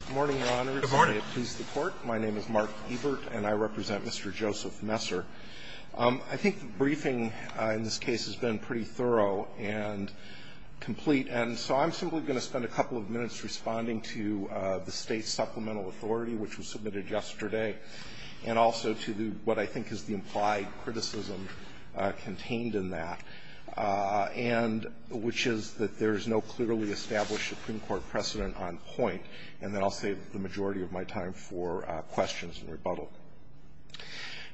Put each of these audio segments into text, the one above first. Good morning, Your Honors, and may it please the Court. My name is Mark Ebert, and I represent Mr. Joseph Messer. I think the briefing in this case has been pretty thorough and complete, and so I'm simply going to spend a couple of minutes responding to the State Supplemental Authority, which was submitted yesterday, and also to what I think is the implied criticism contained in that, which is that there is no clearly established Supreme Court precedent on point. And then I'll save the majority of my time for questions and rebuttal.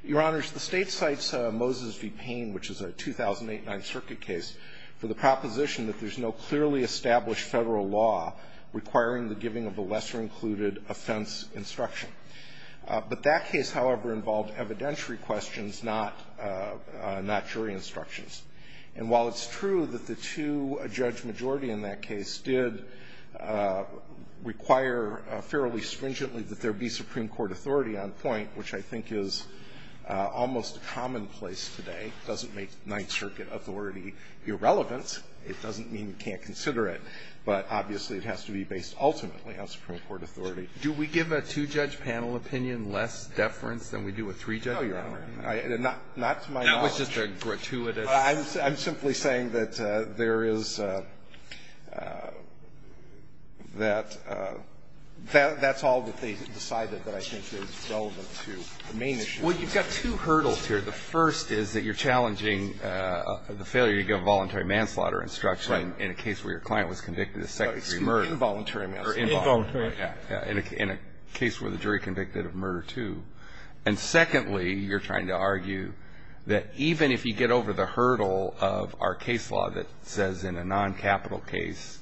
Your Honors, the State cites Moses v. Payne, which is a 2008 Ninth Circuit case, for the proposition that there's no clearly established federal law requiring the giving of a lesser-included offense instruction. But that case, however, involved evidentiary questions, not jury instructions. And while it's true that the two-judge majority in that case did require fairly stringently that there be Supreme Court authority on point, which I think is almost commonplace today, doesn't make Ninth Circuit authority irrelevant. It doesn't mean you can't consider it, but obviously it has to be based ultimately on Supreme Court authority. Do we give a two-judge panel opinion less deference than we do a three-judge panel opinion? No, Your Honor. Not to my knowledge. That was just a gratuitous question. I'm simply saying that there is that that's all that they decided that I think is relevant to the main issue. Well, you've got two hurdles here. The first is that you're challenging the failure to give a voluntary manslaughter instruction in a case where your client was convicted of second-degree murder. Involuntary manslaughter. Involuntary. In a case where the jury convicted of murder two. And secondly, you're trying to argue that even if you get over the hurdle of our case law that says in a non-capital case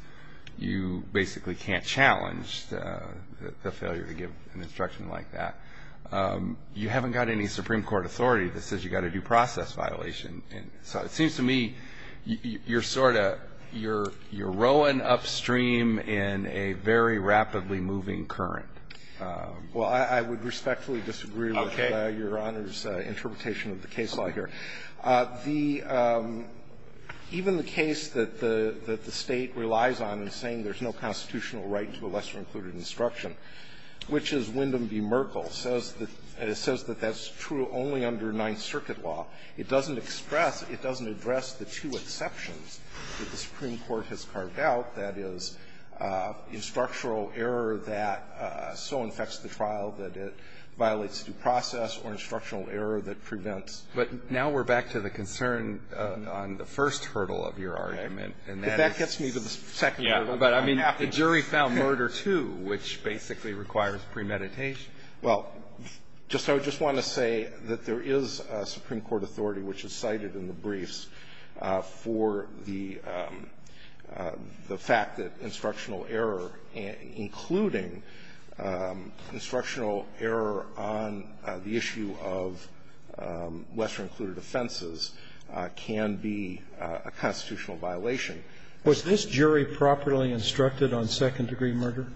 you basically can't challenge the failure to give an instruction like that, you haven't got any Supreme Court authority that says you've got a due process violation. And so it seems to me you're sort of you're rowing upstream in a very rapidly moving current. Well, I would respectfully disagree with Your Honor's interpretation of the case law here. Even the case that the State relies on in saying there's no constitutional right to a lesser-included instruction, which is Wyndham v. Merkle, says that that's true only under Ninth Circuit law. It doesn't express, it doesn't address the two exceptions that the Supreme Court has carved out, that is, instructional error that so infects the trial that it violates due process or instructional error that prevents. But now we're back to the concern on the first hurdle of your argument. And that is the second hurdle. But I mean, the jury found murder two, which basically requires premeditation. Well, just I would just want to say that there is a Supreme Court authority which is cited in the briefs for the fact that instructional error, including instructional error on the issue of lesser-included offenses, can be a constitutional violation. Was this jury properly instructed on second-degree murder?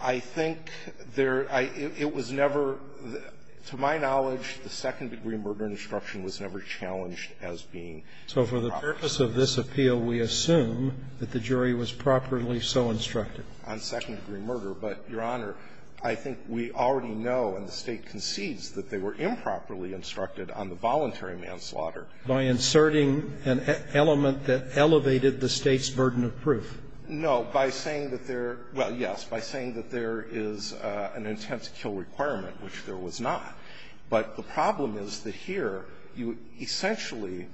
I think there – it was never – to my knowledge, the second-degree murder instruction was never challenged as being proper. So for the purpose of this appeal, we assume that the jury was properly so instructed? On second-degree murder. But, Your Honor, I think we already know and the State concedes that they were improperly instructed on the voluntary manslaughter. By inserting an element that elevated the State's burden of proof. No. By saying that there – well, yes. By saying that there is an intent-to-kill requirement, which there was not. But the problem is that here you essentially,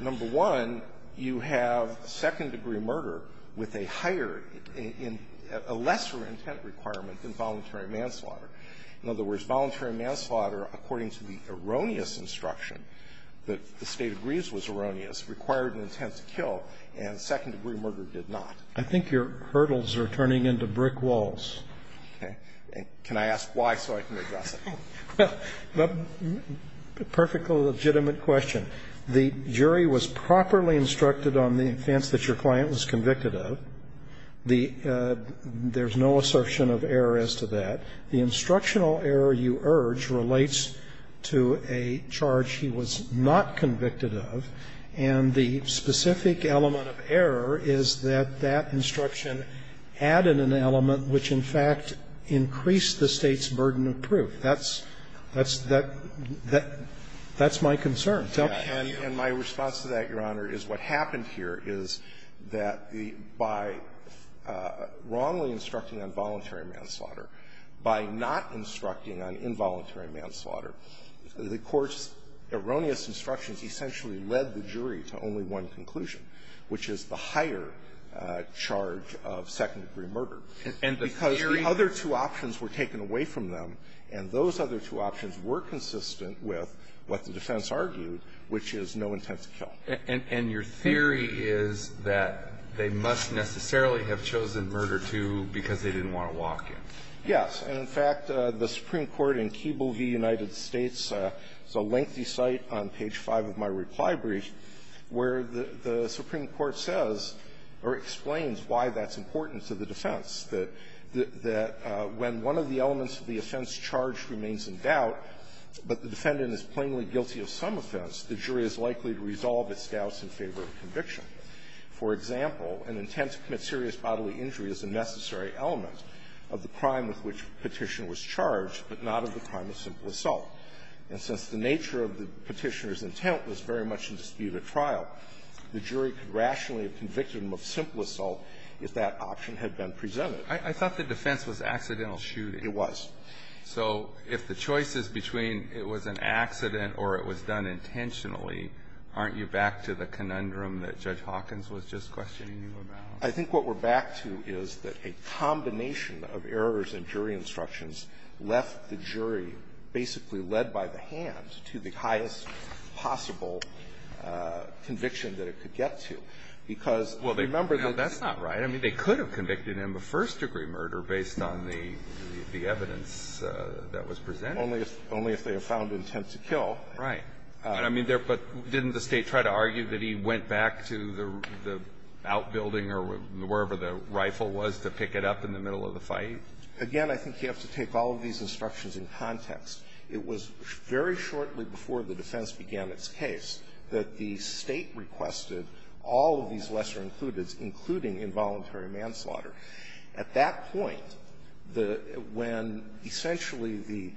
number one, you have second-degree murder with a higher in – a lesser intent requirement than voluntary manslaughter. In other words, voluntary manslaughter, according to the erroneous instruction that the State agrees was erroneous, required an intent-to-kill, and second-degree murder did not. I think your hurdles are turning into brick walls. Okay. Can I ask why so I can address it? Well, a perfectly legitimate question. The jury was properly instructed on the offense that your client was convicted The – there's no assertion of error as to that. The instructional error you urge relates to a charge he was not convicted of, and the specific element of error is that that instruction added an element which in fact increased the State's burden of proof. That's – that's – that's my concern. Tell me how you feel. And my response to that, Your Honor, is what happened here is that the – by wrongly instructing on voluntary manslaughter, by not instructing on involuntary manslaughter, the Court's erroneous instructions essentially led the jury to only one conclusion, which is the higher charge of second-degree murder. And the theory – Because the other two options were taken away from them, and those other two options were consistent with what the defense argued, which is no intent to kill. And – and your theory is that they must necessarily have chosen murder, too, because they didn't want to walk in. Yes. And, in fact, the Supreme Court in Keeble v. United States, it's a lengthy site on page 5 of my reply brief, where the – the Supreme Court says or explains why that's important to the defense, that – that when one of the elements of the offense charge remains in doubt, but the defendant is plainly guilty of some kind of scouse in favor of conviction. For example, an intent to commit serious bodily injury is a necessary element of the crime with which Petition was charged, but not of the crime of simple assault. And since the nature of the Petitioner's intent was very much in dispute at trial, the jury could rationally have convicted him of simple assault if that option had been presented. I thought the defense was accidental shooting. It was. So if the choice is between it was an accident or it was done intentionally, aren't you back to the conundrum that Judge Hawkins was just questioning you about? I think what we're back to is that a combination of errors in jury instructions left the jury basically led by the hand to the highest possible conviction that it could get to, because remember the – Well, that's not right. I mean, they could have convicted him of first-degree murder based on the evidence that was presented. Only if they have found intent to kill. Right. I mean, but didn't the State try to argue that he went back to the outbuilding or wherever the rifle was to pick it up in the middle of the fight? Again, I think you have to take all of these instructions in context. It was very shortly before the defense began its case that the State requested all of these lesser-includeds, including involuntary manslaughter. At that point, the – when essentially the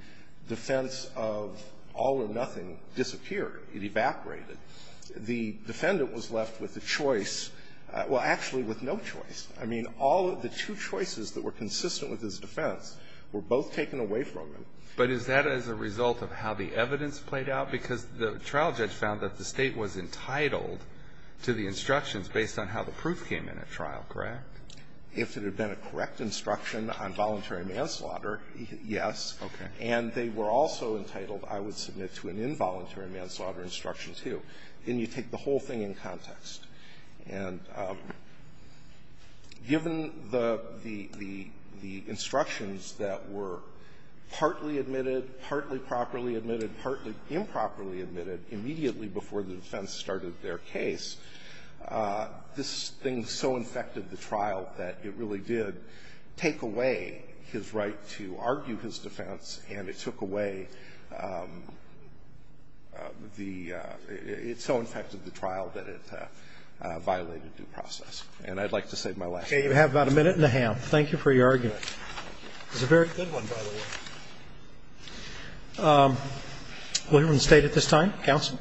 defense of all or nothing disappeared, it evaporated, the defendant was left with a choice – well, actually with no choice. I mean, all of the two choices that were consistent with his defense were both taken away from him. But is that as a result of how the evidence played out? Because the trial judge found that the State was entitled to the instructions based on how the proof came in at trial, correct? If it had been a correct instruction on voluntary manslaughter, yes. Okay. And they were also entitled, I would submit, to an involuntary manslaughter instruction, too. And you take the whole thing in context. And given the instructions that were partly admitted, partly properly admitted, partly improperly admitted, immediately before the defense started their case, this thing so infected the trial that it really did take away his right to argue his defense, and it took away the – it so infected the trial that it violated due process. And I'd like to save my last minute. You have about a minute and a half. Thank you for your argument. It was a very good one, by the way. William and State at this time. Counsel.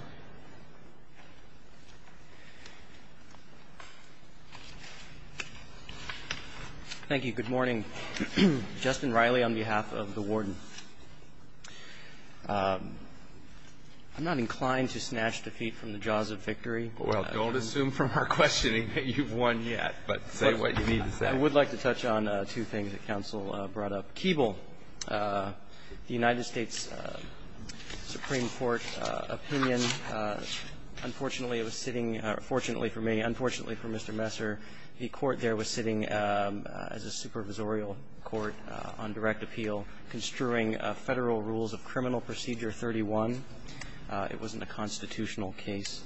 Thank you. Good morning. Justin Riley on behalf of the Warden. I'm not inclined to snatch defeat from the jaws of victory. Well, don't assume from our questioning that you've won yet, but say what you need to say. I would like to touch on two things that counsel brought up. First, Keeble, the United States Supreme Court opinion. Unfortunately, it was sitting – fortunately for me, unfortunately for Mr. Messer, the court there was sitting as a supervisorial court on direct appeal, construing Federal Rules of Criminal Procedure 31. It wasn't a constitutional case.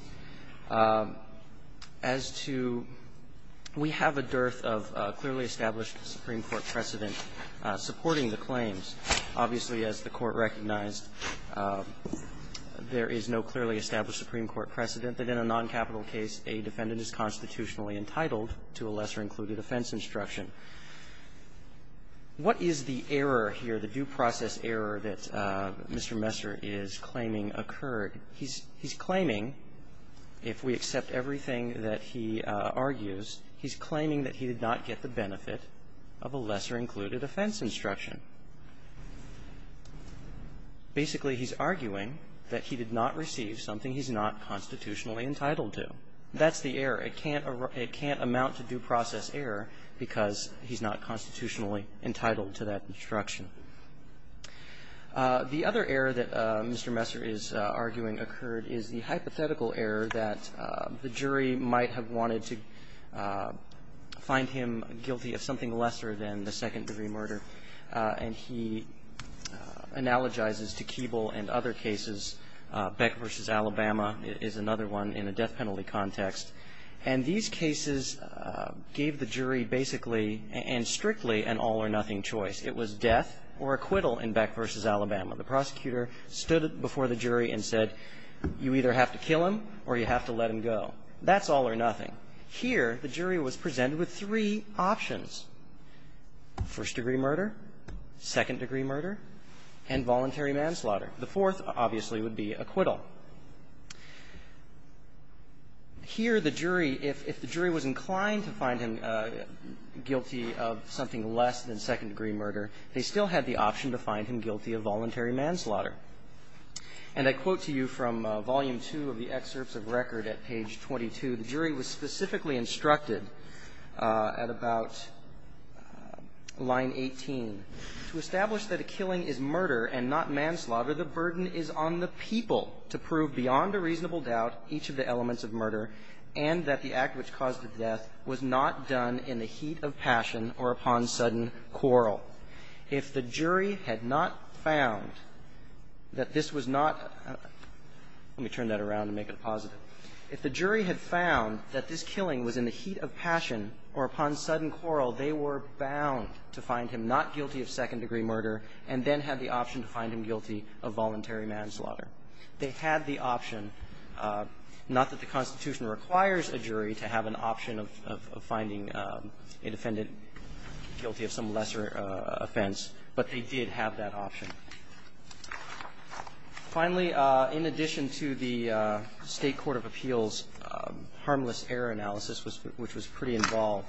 As to – we have a dearth of clearly established Supreme Court precedent supporting the claims. Obviously, as the Court recognized, there is no clearly established Supreme Court precedent that in a noncapital case a defendant is constitutionally entitled to a lesser included offense instruction. What is the error here, the due process error that Mr. Messer is claiming occurred? He's – he's claiming, if we accept everything that he argues, he's claiming that he did not get the benefit of a lesser included offense instruction. Basically, he's arguing that he did not receive something he's not constitutionally entitled to. That's the error. It can't – it can't amount to due process error because he's not constitutionally entitled to that instruction. The other error that Mr. Messer is arguing occurred is the hypothetical error that the jury might have wanted to find him guilty of something lesser than the second degree murder. And he analogizes to Keeble and other cases. Beck v. Alabama is another one in a death penalty context. And these cases gave the jury basically and strictly an all-or-nothing choice. It was death or acquittal in Beck v. Alabama. The prosecutor stood before the jury and said, you either have to kill him or you have to let him go. That's all or nothing. Here, the jury was presented with three options, first degree murder, second degree murder, and voluntary manslaughter. The fourth, obviously, would be acquittal. Here, the jury, if the jury was inclined to find him guilty of something less than second degree murder, they still had the option to find him guilty of voluntary manslaughter. And I quote to you from volume two of the excerpts of record at page 22. The jury was specifically instructed at about line 18, to establish that a killing is murder and not manslaughter. The burden is on the people to prove beyond a reasonable doubt each of the elements of murder and that the act which caused the death was not done in the heat of passion or upon sudden quarrel. If the jury had not found that this was not – let me turn that around and make it positive. If the jury had found that this killing was in the heat of passion or upon sudden quarrel, they were bound to find him not guilty of second degree murder and then have the option to find him guilty of voluntary manslaughter. They had the option, not that the Constitution requires a jury to have an option of finding a defendant guilty of some lesser offense, but they did have that option. Finally, in addition to the State Court of Appeals harmless error analysis, which was pretty involved,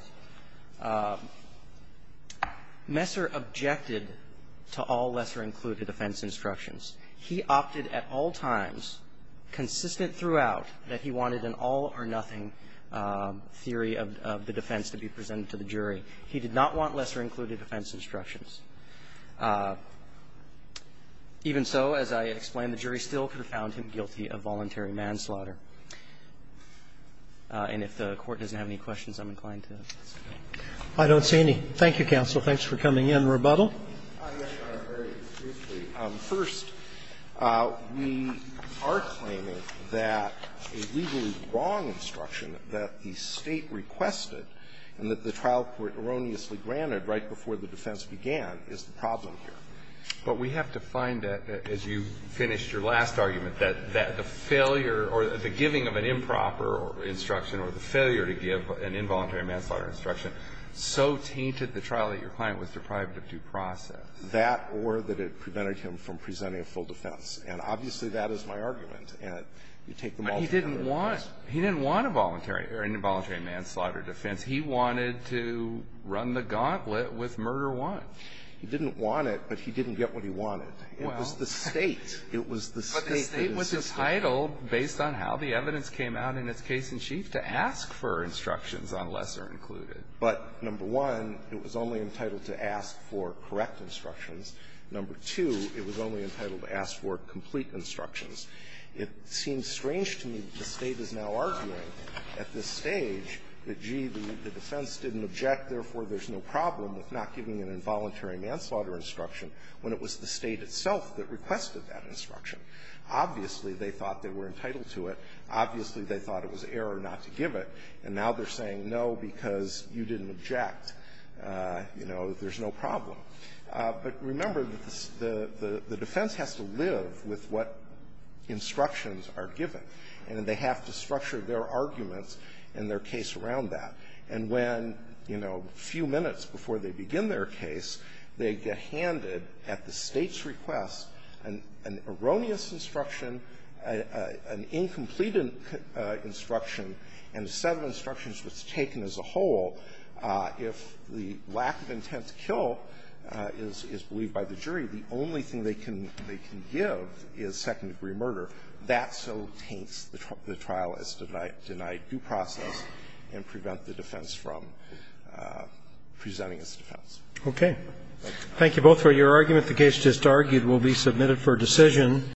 Messer objected to all lesser included offense instructions. He opted at all times, consistent throughout, that he wanted an all or nothing theory of the defense to be presented to the jury. He did not want lesser included offense instructions. Even so, as I explained, the jury still could have found him guilty of voluntary manslaughter. And if the Court doesn't have any questions, I'm inclined to ask them. Roberts. I don't see any. Thank you, counsel. Thanks for coming in. Rebuttal. First, we are claiming that a legally wrong instruction that the State requested and that the trial court erroneously granted right before the defense began is the problem here. But we have to find, as you finished your last argument, that the failure or the giving of an improper instruction or the failure to give an involuntary manslaughter instruction so tainted the trial that your client was deprived of due process. That or that it prevented him from presenting a full defense. And obviously, that is my argument. And you take them all together. But he didn't want an involuntary manslaughter defense. He wanted to run the gauntlet with murder one. He didn't want it, but he didn't get what he wanted. It was the State. It was the State that insisted. But the State was entitled, based on how the evidence came out in its case in chief, to ask for instructions unless they're included. But, number one, it was only entitled to ask for correct instructions. Number two, it was only entitled to ask for complete instructions. It seems strange to me that the State is now arguing at this stage that, gee, the defense didn't object, therefore there's no problem with not giving an involuntary manslaughter instruction, when it was the State itself that requested that instruction. Obviously, they thought they were entitled to it. Obviously, they thought it was error not to give it. And now they're saying, no, because you didn't object, you know, there's no problem. But remember that the defense has to live with what instructions are given, and they have to structure their arguments and their case around that. And when, you know, a few minutes before they begin their case, they get handed at the State's request an erroneous instruction, an incomplete instruction, and a set of instructions that's taken as a whole, if the lack of intent to kill is believed by the jury, the only thing they can give is second-degree murder, that so taints the trial as denied due process and prevent the defense from presenting its defense. Okay. Thank you both for your argument. The case just argued will be submitted for decision.